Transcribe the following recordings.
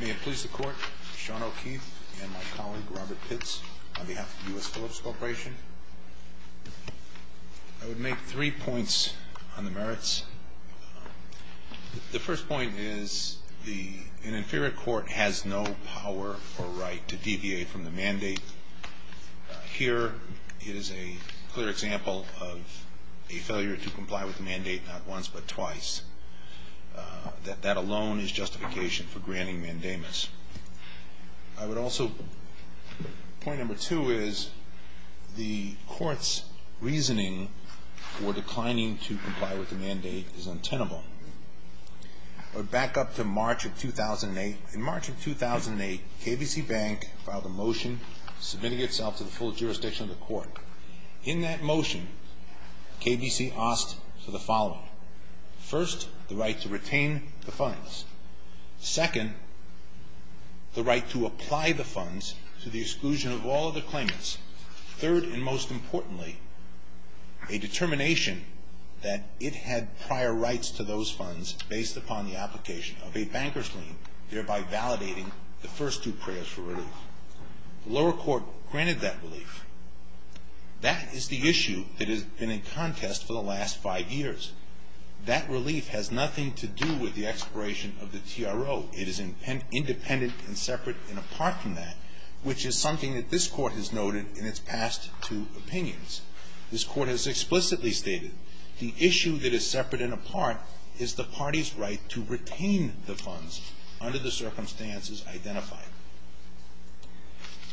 May it please the Court, Sean O'Keefe and my colleague, Robert Pitts, on behalf of the U.S. Philips Corporation. I would make three points on the merits. The first point is an inferior court has no power or right to deviate from the mandate. Here is a clear example of a failure to comply with the mandate not once but twice. That alone is justification for granting mandamus. Point number two is the Court's reasoning for declining to comply with the mandate is untenable. Back up to March of 2008. In March of 2008, KBC Bank filed a motion submitting itself to the full jurisdiction of the Court. In that motion, KBC asked for the following. First, the right to retain the funds. Second, the right to apply the funds to the exclusion of all other claimants. Third, and most importantly, a determination that it had prior rights to those funds based upon the application of a banker's lien, thereby validating the first two prayers for relief. The lower court granted that relief. That is the issue that has been in contest for the last five years. That relief has nothing to do with the expiration of the TRO. It is independent and separate and apart from that, which is something that this Court has noted in its past two opinions. This Court has explicitly stated the issue that is separate and apart is the party's right to retain the funds under the circumstances identified.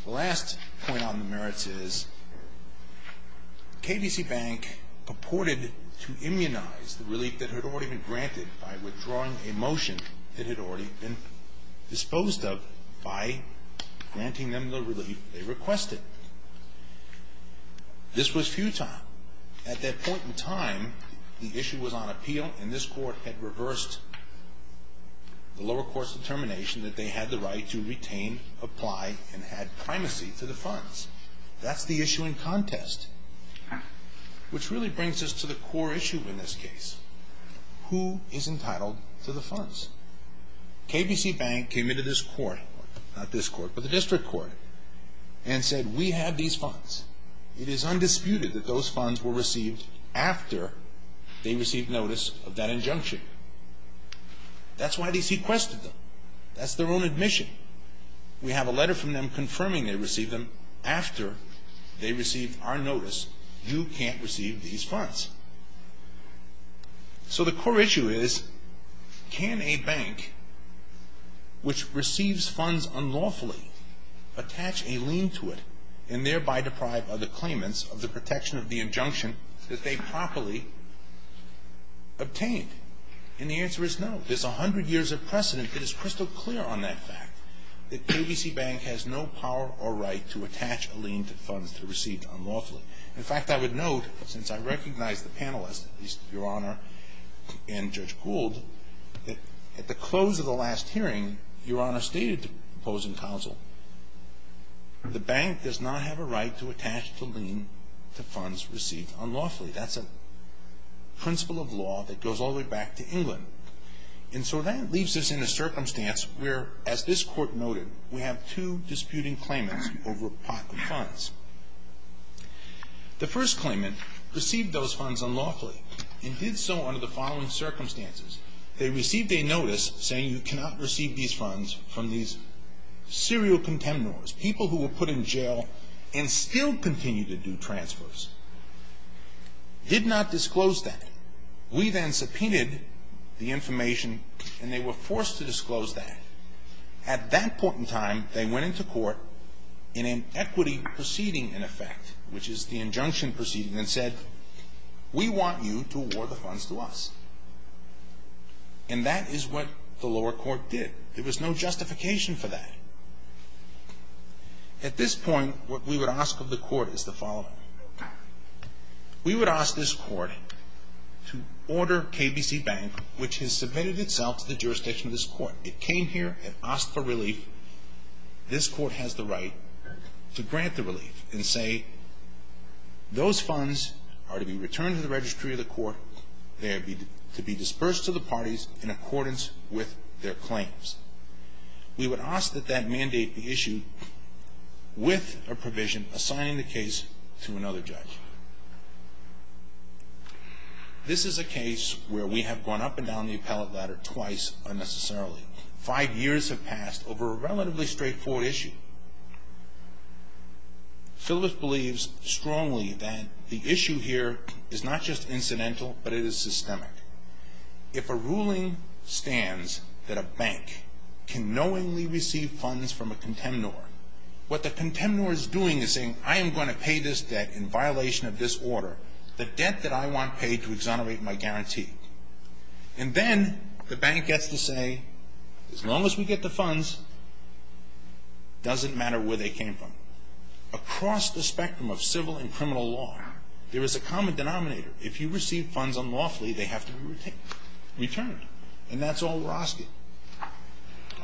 The last point on the merits is KBC Bank purported to immunize the relief that had already been granted by withdrawing a motion that had already been disposed of by granting them the relief they requested. This was futile. At that point in time, the issue was on appeal, and this Court had reversed the lower court's determination that they had the right to retain, apply, and add primacy to the funds. That's the issue in contest, which really brings us to the core issue in this case. Who is entitled to the funds? KBC Bank came into this Court, not this Court, but the district court, and said, we have these funds. It is undisputed that those funds were received after they received notice of that injunction. That's why they sequestered them. That's their own admission. We have a letter from them confirming they received them after they received our notice. You can't receive these funds. So the core issue is, can a bank which receives funds unlawfully attach a lien to it and thereby deprive other claimants of the protection of the injunction that they properly obtained? And the answer is no. There's 100 years of precedent that is crystal clear on that fact, that KBC Bank has no power or right to attach a lien to funds received unlawfully. In fact, I would note, since I recognize the panelists, at least Your Honor and Judge Gould, that at the close of the last hearing, Your Honor stated the closing counsel, the bank does not have a right to attach a lien to funds received unlawfully. That's a principle of law that goes all the way back to England. And so that leaves us in a circumstance where, as this Court noted, we have two disputing claimants over a pot of funds. The first claimant received those funds unlawfully and did so under the following circumstances. They received a notice saying you cannot receive these funds from these serial contemptors, people who were put in jail and still continue to do transfers. Did not disclose that. We then subpoenaed the information and they were forced to disclose that. At that point in time, they went into court in an equity proceeding, in effect, which is the injunction proceeding, and said we want you to award the funds to us. And that is what the lower court did. There was no justification for that. At this point, what we would ask of the court is the following. We would ask this court to order KBC Bank, which has submitted itself to the jurisdiction of this court. It came here and asked for relief. This court has the right to grant the relief and say those funds are to be returned to the registry of the court. They are to be dispersed to the parties in accordance with their claims. We would ask that that mandate be issued with a provision assigning the case to another judge. This is a case where we have gone up and down the appellate ladder twice unnecessarily. Five years have passed over a relatively straightforward issue. Phillips believes strongly that the issue here is not just incidental, but it is systemic. If a ruling stands that a bank can knowingly receive funds from a contemptor, what the contemptor is doing is saying I am going to pay this debt in violation of this order, the debt that I want paid to exonerate my guarantee. And then the bank gets to say as long as we get the funds, it doesn't matter where they came from. Across the spectrum of civil and criminal law, there is a common denominator. If you receive funds unlawfully, they have to be returned. And that's all we're asking.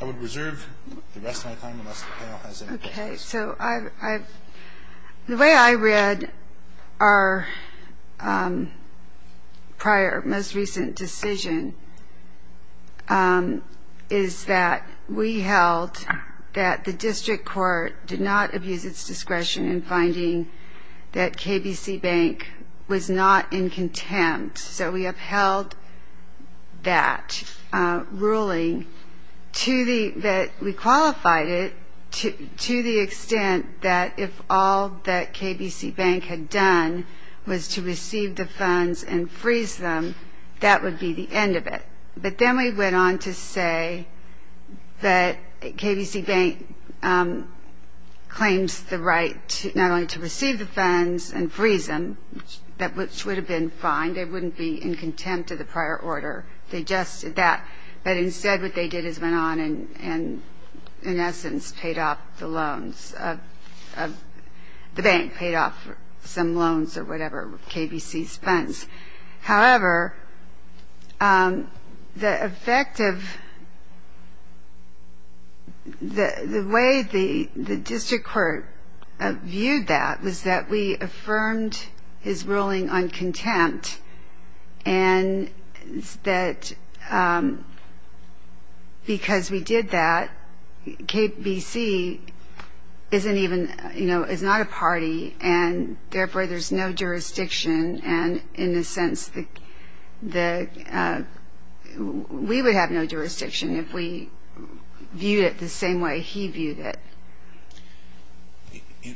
I would reserve the rest of my time unless the panel has any questions. Okay. So the way I read our prior most recent decision is that we held that the district court did not abuse its discretion in finding that KBC Bank was not in contempt. So we upheld that ruling that we qualified it to the extent that if all that KBC Bank had done was to receive the funds and freeze them, that would be the end of it. But then we went on to say that KBC Bank claims the right not only to receive the funds and freeze them, which would have been fine. They wouldn't be in contempt of the prior order. They just did that. But instead what they did is went on and, in essence, paid off the loans. The bank paid off some loans or whatever with KBC's funds. However, the effect of the way the district court viewed that was that we affirmed his ruling on contempt, and that because we did that, KBC isn't even, you know, is not a party, and therefore there's no jurisdiction. And in a sense, we would have no jurisdiction if we viewed it the same way he viewed it.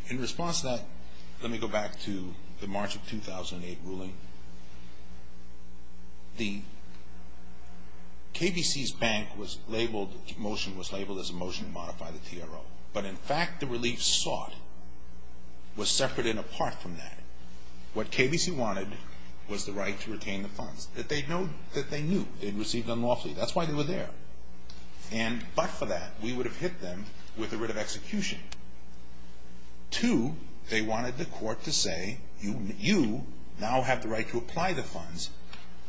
In response to that, let me go back to the March of 2008 ruling. The KBC's bank was labeled, the motion was labeled as a motion to modify the TRO. But, in fact, the relief sought was separate and apart from that. What KBC wanted was the right to retain the funds that they knew they'd received unlawfully. That's why they were there. And but for that, we would have hit them with the writ of execution. Two, they wanted the court to say, you now have the right to apply the funds.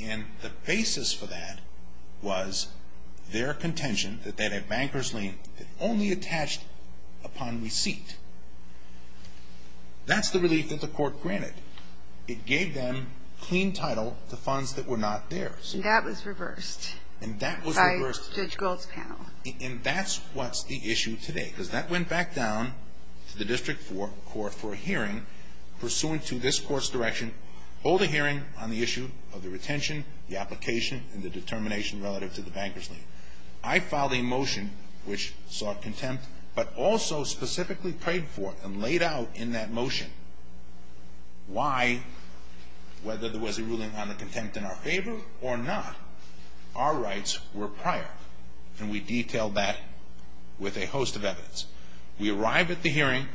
And the basis for that was their contention that they had a banker's lien that only attached upon receipt. That's the relief that the court granted. It gave them clean title to funds that were not theirs. And that was reversed. And that was reversed. By Judge Gold's panel. And that's what's the issue today because that went back down to the district court for a hearing pursuant to this court's direction, hold a hearing on the issue of the retention, the application, and the determination relative to the banker's lien. I filed a motion which sought contempt but also specifically prayed for and laid out in that motion why, whether there was a ruling on the contempt in our favor or not, our rights were prior. And we detailed that with a host of evidence. We arrive at the hearing,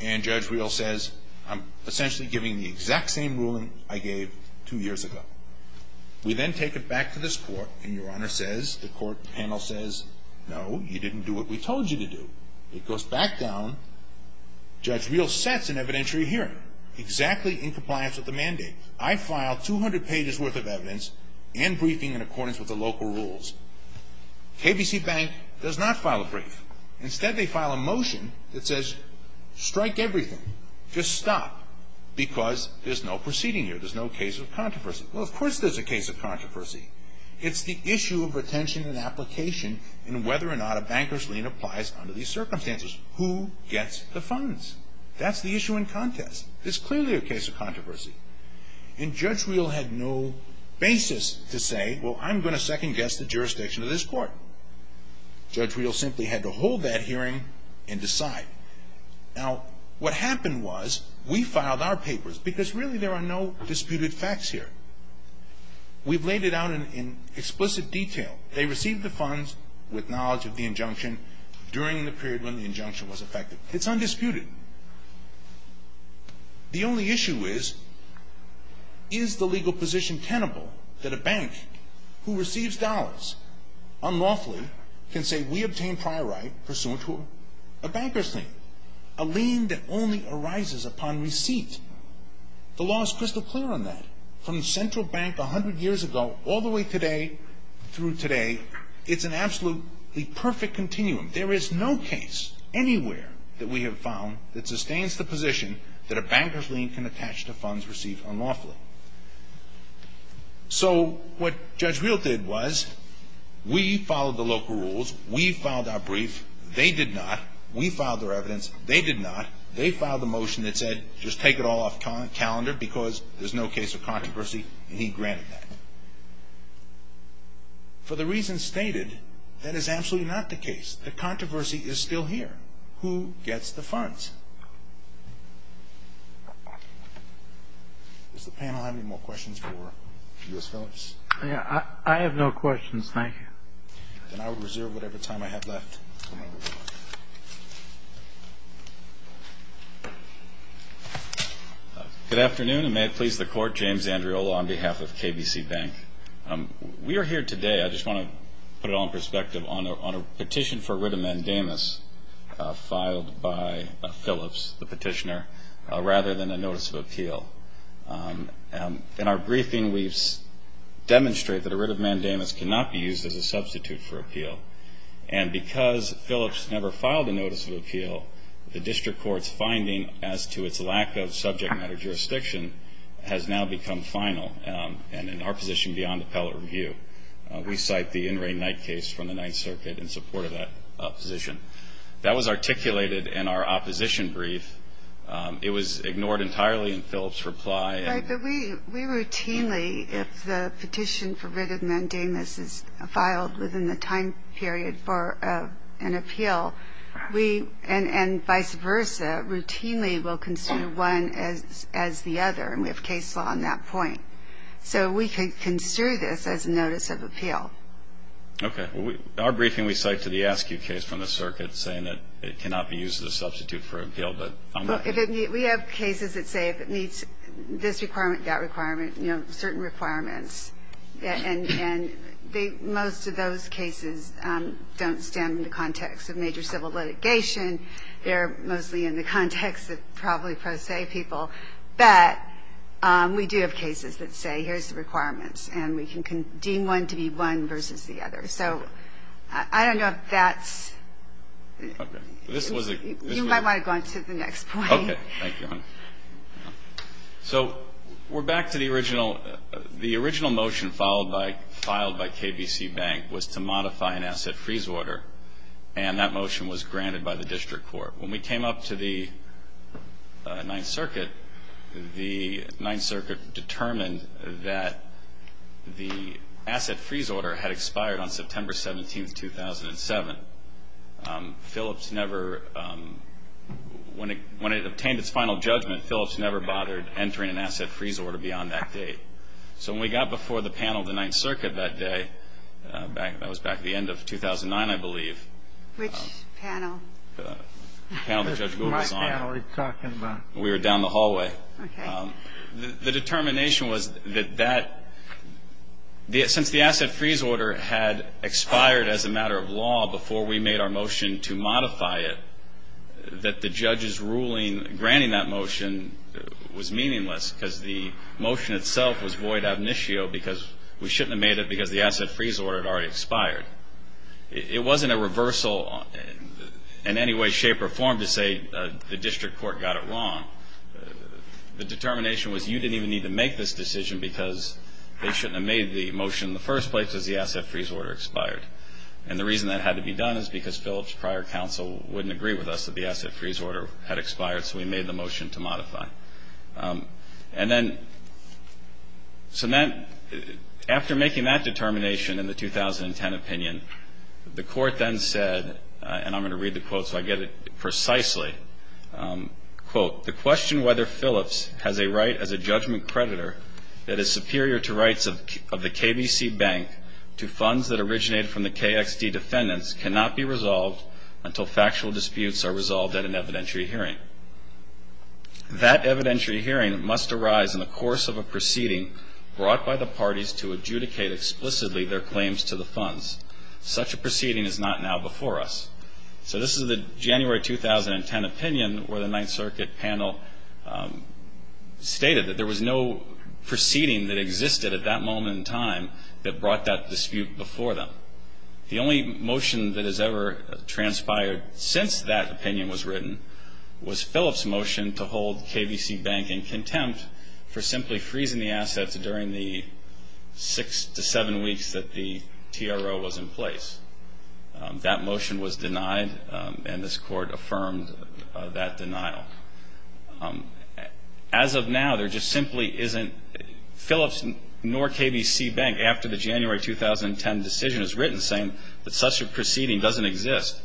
and Judge Reel says, I'm essentially giving the exact same ruling I gave two years ago. We then take it back to this court, and Your Honor says, the court panel says, no, you didn't do what we told you to do. It goes back down. Judge Reel sets an evidentiary hearing exactly in compliance with the mandate. I filed 200 pages worth of evidence and briefing in accordance with the local rules. KBC Bank does not file a brief. Instead, they file a motion that says, strike everything. Just stop because there's no proceeding here. There's no case of controversy. Well, of course there's a case of controversy. It's the issue of retention and application and whether or not a banker's lien applies under these circumstances. Who gets the funds? That's the issue in contest. It's clearly a case of controversy. And Judge Reel had no basis to say, well, I'm going to second-guess the jurisdiction of this court. Judge Reel simply had to hold that hearing and decide. Now, what happened was we filed our papers because really there are no disputed facts here. We've laid it out in explicit detail. They received the funds with knowledge of the injunction during the period when the injunction was effective. It's undisputed. The only issue is, is the legal position tenable that a bank who receives dollars unlawfully can say, we obtained prior right pursuant to a banker's lien, a lien that only arises upon receipt? The law is crystal clear on that. From the Central Bank 100 years ago all the way today through today, it's an absolutely perfect continuum. There is no case anywhere that we have found that sustains the position that a banker's lien can attach to funds received unlawfully. So what Judge Reel did was we followed the local rules. We filed our brief. They did not. We filed their evidence. They did not. They filed a motion that said just take it all off calendar because there's no case of controversy, and he granted that. For the reasons stated, that is absolutely not the case. The controversy is still here. Who gets the funds? Does the panel have any more questions for U.S. Phillips? I have no questions. Thank you. Then I will reserve whatever time I have left. Good afternoon, and may it please the Court. James Andreola on behalf of KBC Bank. We are here today, I just want to put it all in perspective, on a petition for writ of mandamus filed by Phillips, the petitioner, rather than a notice of appeal. In our briefing we demonstrate that a writ of mandamus cannot be used as a substitute for appeal. And because Phillips never filed a notice of appeal, the district court's finding as to its lack of subject matter jurisdiction has now become final, and in our position beyond appellate review. We cite the in-ring night case from the Ninth Circuit in support of that position. That was articulated in our opposition brief. It was ignored entirely in Phillips' reply. Right, but we routinely, if the petition for writ of mandamus is filed within the time period for an appeal, we, and vice versa, routinely will consider one as the other, and we have case law on that point. So we can consider this as a notice of appeal. Okay. Our briefing we cite to the ASCQ case from the circuit saying that it cannot be used as a substitute for appeal. We have cases that say if it meets this requirement, that requirement, you know, certain requirements, and most of those cases don't stand in the context of major civil litigation. They're mostly in the context of probably pro se people. But we do have cases that say here's the requirements, and we can deem one to be one versus the other. So I don't know if that's the case. The next point. Okay. Thank you. So we're back to the original. The original motion filed by KBC Bank was to modify an asset freeze order, and that motion was granted by the district court. When we came up to the Ninth Circuit, the Ninth Circuit determined that the asset freeze order had expired on September 17, 2007. Philips never – when it obtained its final judgment, Philips never bothered entering an asset freeze order beyond that date. So when we got before the panel of the Ninth Circuit that day, that was back at the end of 2009, I believe. Which panel? The panel that Judge Gould was on. My panel he's talking about. We were down the hallway. Okay. The determination was that that – since the asset freeze order had expired as a matter of law before we made our motion to modify it, that the judge's ruling granting that motion was meaningless because the motion itself was void ab initio because we shouldn't have made it because the asset freeze order had already expired. It wasn't a reversal in any way, shape, or form to say the district court got it wrong. The determination was you didn't even need to make this decision because they shouldn't have made the motion in the first place because the asset freeze order expired. And the reason that had to be done is because Philips' prior counsel wouldn't agree with us that the asset freeze order had expired, so we made the motion to modify. And then – so that – after making that determination in the 2010 opinion, the court then said – and I'm going to read the quote so I get it precisely. Quote, The question whether Philips has a right as a judgment creditor that is superior to rights of the KBC Bank to funds that originated from the KXD defendants cannot be resolved until factual disputes are resolved at an evidentiary hearing. That evidentiary hearing must arise in the course of a proceeding brought by the parties to adjudicate explicitly their claims to the funds. Such a proceeding is not now before us. So this is the January 2010 opinion where the Ninth Circuit panel stated that there was no proceeding that existed at that moment in time that brought that dispute before them. The only motion that has ever transpired since that opinion was written was Philips' motion to hold KBC Bank in contempt for simply freezing the assets during the six to seven weeks that the TRO was in place. That motion was denied, and this court affirmed that denial. As of now, there just simply isn't – Philips nor KBC Bank, after the January 2010 decision is written saying that such a proceeding doesn't exist.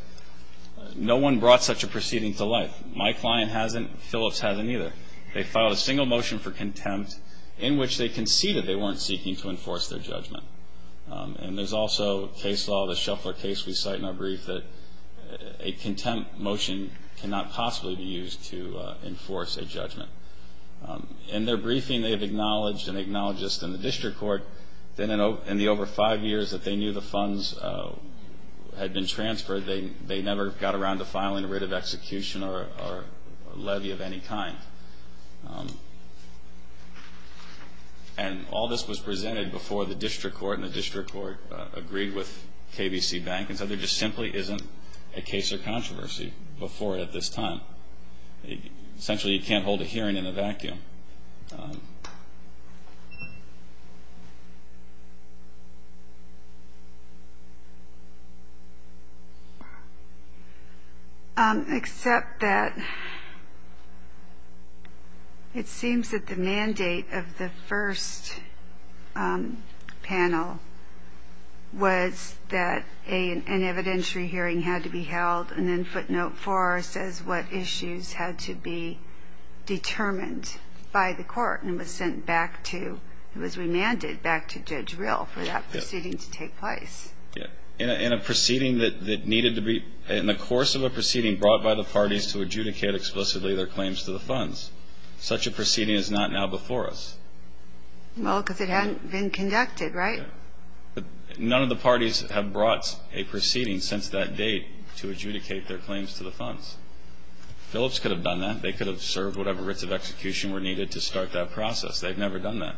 No one brought such a proceeding to life. My client hasn't. Philips hasn't either. They filed a single motion for contempt in which they conceded they weren't seeking to enforce their judgment. And there's also case law, the Shuffler case we cite in our brief, that a contempt motion cannot possibly be used to enforce a judgment. In their briefing, they have acknowledged and acknowledged this in the district court that in the over five years that they knew the funds had been transferred, they never got around to filing a writ of execution or a levy of any kind. And all this was presented before the district court, and the district court agreed with KBC Bank and said there just simply isn't a case or controversy before it at this time. Essentially, you can't hold a hearing in a vacuum. Except that it seems that the mandate of the first panel was that an evidentiary hearing had to be held and then footnote four says what issues had to be determined by the court and was remanded back to Judge Rill for that proceeding to take place. In the course of a proceeding brought by the parties to adjudicate explicitly their claims to the funds, such a proceeding is not now before us. Well, because it hadn't been conducted, right? None of the parties have brought a proceeding since that date to adjudicate their claims to the funds. Phillips could have done that. They could have served whatever writs of execution were needed to start that process. They've never done that.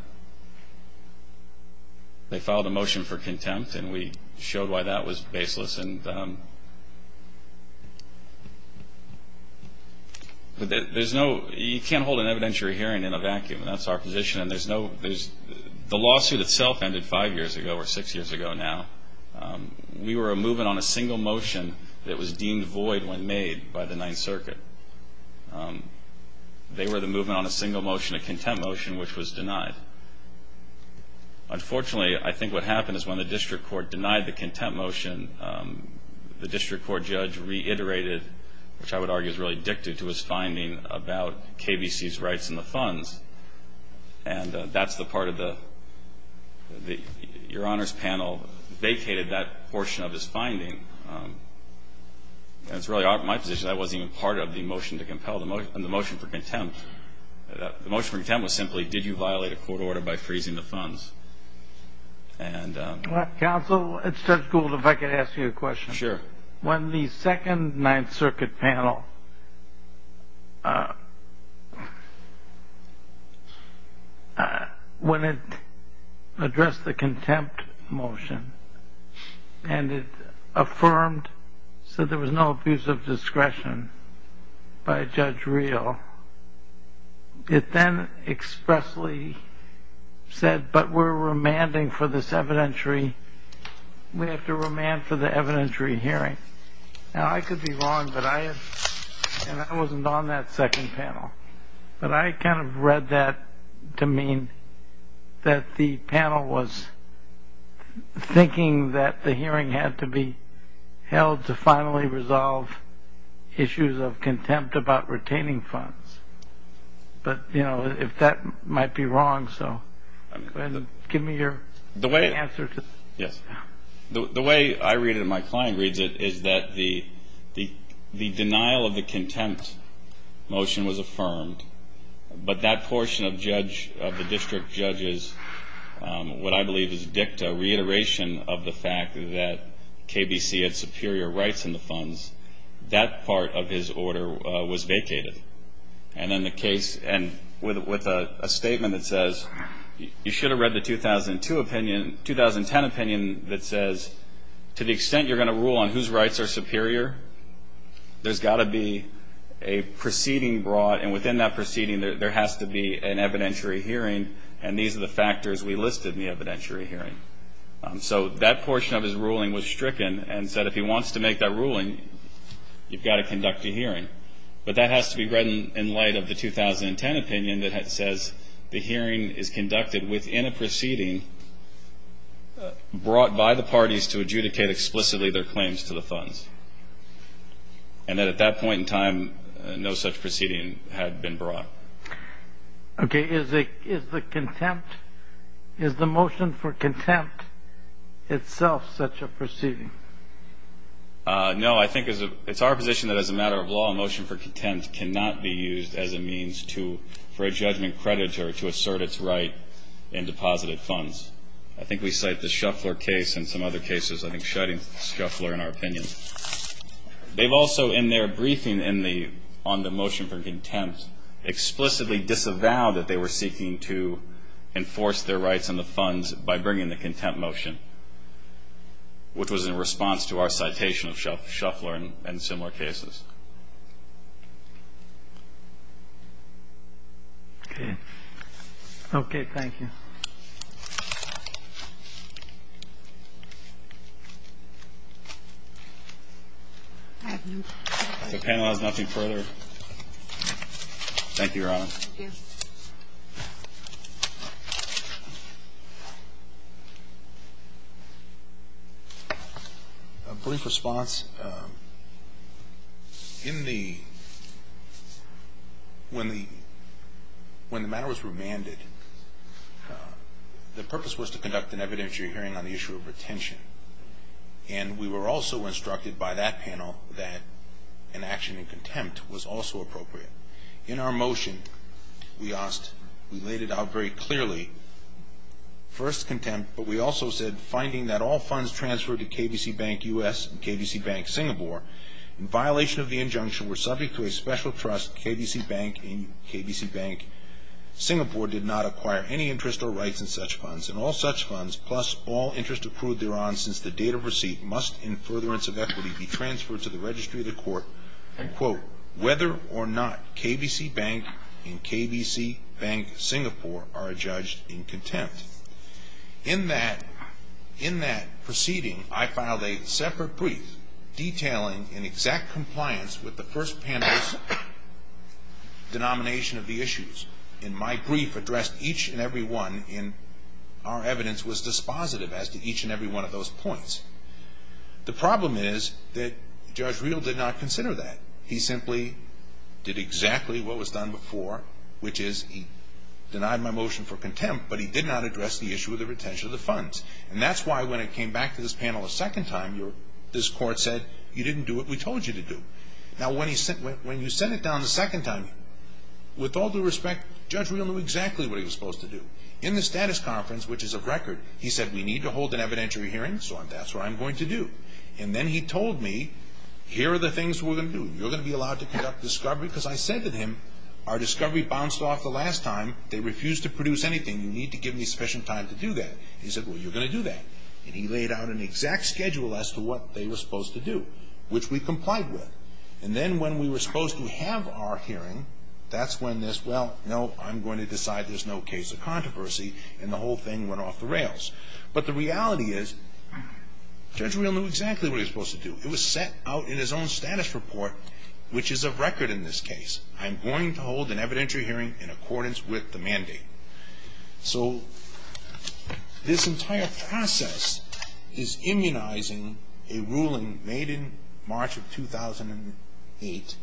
They filed a motion for contempt, and we showed why that was baseless. But there's no – you can't hold an evidentiary hearing in a vacuum. That's our position, and there's no – the lawsuit itself ended five years ago or six years ago now. We were a movement on a single motion that was deemed void when made by the Ninth Circuit. They were the movement on a single motion, a contempt motion, which was denied. Unfortunately, I think what happened is when the district court denied the contempt motion, the district court judge reiterated, which I would argue is really dictative to his finding, about KBC's rights in the funds, and that's the part of the – your Honor's panel vacated that portion of his finding. That's really my position. That wasn't even part of the motion to compel the motion for contempt. The motion for contempt was simply, did you violate a court order by freezing the funds? Counsel, it's just cool if I could ask you a question. Sure. When the second Ninth Circuit panel – when it addressed the contempt motion and it affirmed so there was no abuse of discretion by Judge Reel, it then expressly said, but we're remanding for this evidentiary – now, I could be wrong, but I – and I wasn't on that second panel, but I kind of read that to mean that the panel was thinking that the hearing had to be held to finally resolve issues of contempt about retaining funds. But, you know, if that might be wrong, so give me your answer to that. The way I read it and my client reads it is that the denial of the contempt motion was affirmed, but that portion of the district judge's, what I believe is dicta, reiteration of the fact that KBC had superior rights in the funds, that part of his order was vacated. And then the case – and with a statement that says, you should have read the 2002 opinion – 2010 opinion that says, to the extent you're going to rule on whose rights are superior, there's got to be a proceeding brought, and within that proceeding, there has to be an evidentiary hearing, and these are the factors we listed in the evidentiary hearing. So that portion of his ruling was stricken and said if he wants to make that ruling, you've got to conduct a hearing. But that has to be read in light of the 2010 opinion that says the hearing is conducted within a proceeding brought by the parties to adjudicate explicitly their claims to the funds, and that at that point in time, no such proceeding had been brought. Okay. Is the contempt – is the motion for contempt itself such a proceeding? No. I think it's our position that as a matter of law, a motion for contempt cannot be used as a means to – for a judgment creditor to assert its right in deposited funds. I think we cite the Shuffler case and some other cases, I think, shutting Shuffler in our opinion. They've also, in their briefing on the motion for contempt, explicitly disavowed that they were seeking to enforce their rights on the funds by bringing the contempt motion, which was in response to our citation of Shuffler and similar cases. Okay. Okay. Thank you. The panel has nothing further. Thank you, Your Honor. Thank you. A brief response. In the – when the matter was remanded, the purpose was to conduct an evidentiary hearing on the issue of retention. And we were also instructed by that panel that an action in contempt was also appropriate. In our motion, we asked – we laid it out very clearly. First contempt, but we also said, finding that all funds transferred to KBC Bank U.S. and KBC Bank Singapore, in violation of the injunction, were subject to a special trust, KBC Bank and KBC Bank Singapore did not acquire any interest or rights in such funds, and all such funds, plus all interest approved thereon since the date of receipt, must, in furtherance of equity, be transferred to the registry of the court, quote, whether or not KBC Bank and KBC Bank Singapore are adjudged in contempt. In that proceeding, I filed a separate brief, detailing in exact compliance with the first panel's denomination of the issues. In my brief, addressed each and every one, and our evidence was dispositive as to each and every one of those points. The problem is that Judge Reel did not consider that. He simply did exactly what was done before, which is he denied my motion for contempt, but he did not address the issue of the retention of the funds. And that's why, when it came back to this panel a second time, this court said, you didn't do what we told you to do. Now, when you sent it down a second time, with all due respect, Judge Reel knew exactly what he was supposed to do. In the status conference, which is of record, he said, we need to hold an evidentiary hearing, so that's what I'm going to do. And then he told me, here are the things we're going to do. You're going to be allowed to conduct discovery, because I said to him, our discovery bounced off the last time. They refused to produce anything. You need to give me sufficient time to do that. He said, well, you're going to do that. And he laid out an exact schedule as to what they were supposed to do, which we complied with. And then, when we were supposed to have our hearing, that's when this, well, no, I'm going to decide there's no case of controversy, and the whole thing went off the rails. But the reality is, Judge Reel knew exactly what he was supposed to do. It was set out in his own status report, which is of record in this case. I'm going to hold an evidentiary hearing in accordance with the mandate. So this entire process is immunizing a ruling made in March of 2008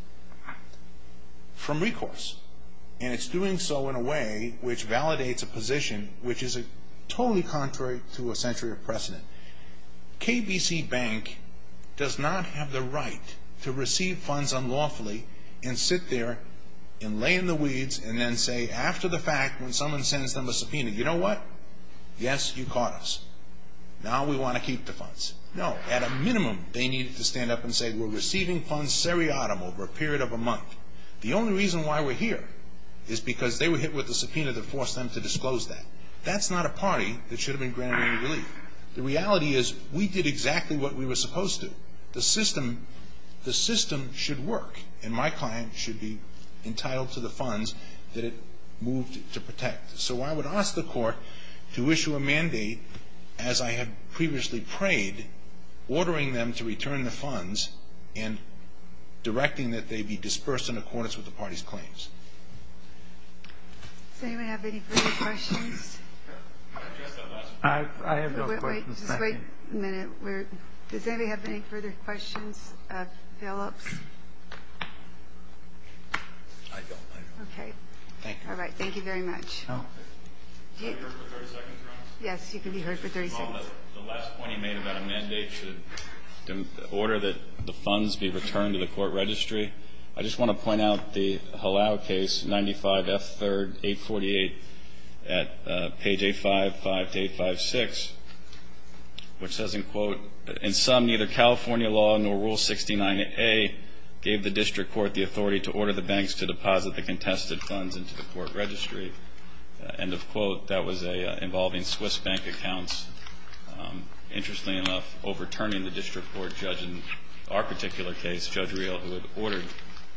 from recourse. And it's doing so in a way which validates a position which is totally contrary to a century of precedent. KBC Bank does not have the right to receive funds unlawfully and sit there and lay in the weeds and then say, after the fact, when someone sends them a subpoena, you know what, yes, you caught us. Now we want to keep the funds. No, at a minimum, they needed to stand up and say, we're receiving funds seriatim over a period of a month. The only reason why we're here is because they were hit with a subpoena that forced them to disclose that. That's not a party that should have been granted any relief. The reality is, we did exactly what we were supposed to. The system should work. And my client should be entitled to the funds that it moved to protect. So I would ask the Court to issue a mandate, as I have previously prayed, ordering them to return the funds and directing that they be dispersed in accordance with the party's claims. Does anyone have any further questions? I have no questions. Wait a minute. Does anybody have any further questions, follow-ups? I don't. Okay. Thank you. All right. Thank you very much. Can I be heard for 30 seconds, Your Honor? Yes, you can be heard for 30 seconds. The last point he made about a mandate should order that the funds be returned to the court registry. I just want to point out the Halau case, 95F3rd 848 at page 855 to 856, which says, in quote, In sum, neither California law nor Rule 69A gave the district court the authority to order the banks to deposit the contested funds into the court registry. End of quote. That was involving Swiss bank accounts. Interestingly enough, overturning the district court judge in our particular case, Judge Reel, who had ordered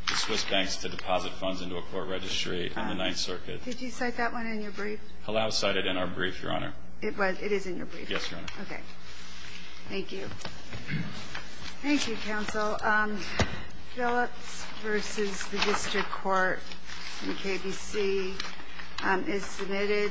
the Swiss banks to deposit funds into a court registry in the Ninth Circuit. Did you cite that one in your brief? Halau cited it in our brief, Your Honor. It is in your brief? Yes, Your Honor. Okay. Thank you. Thank you, counsel. Phillips v. the district court in KBC is submitted.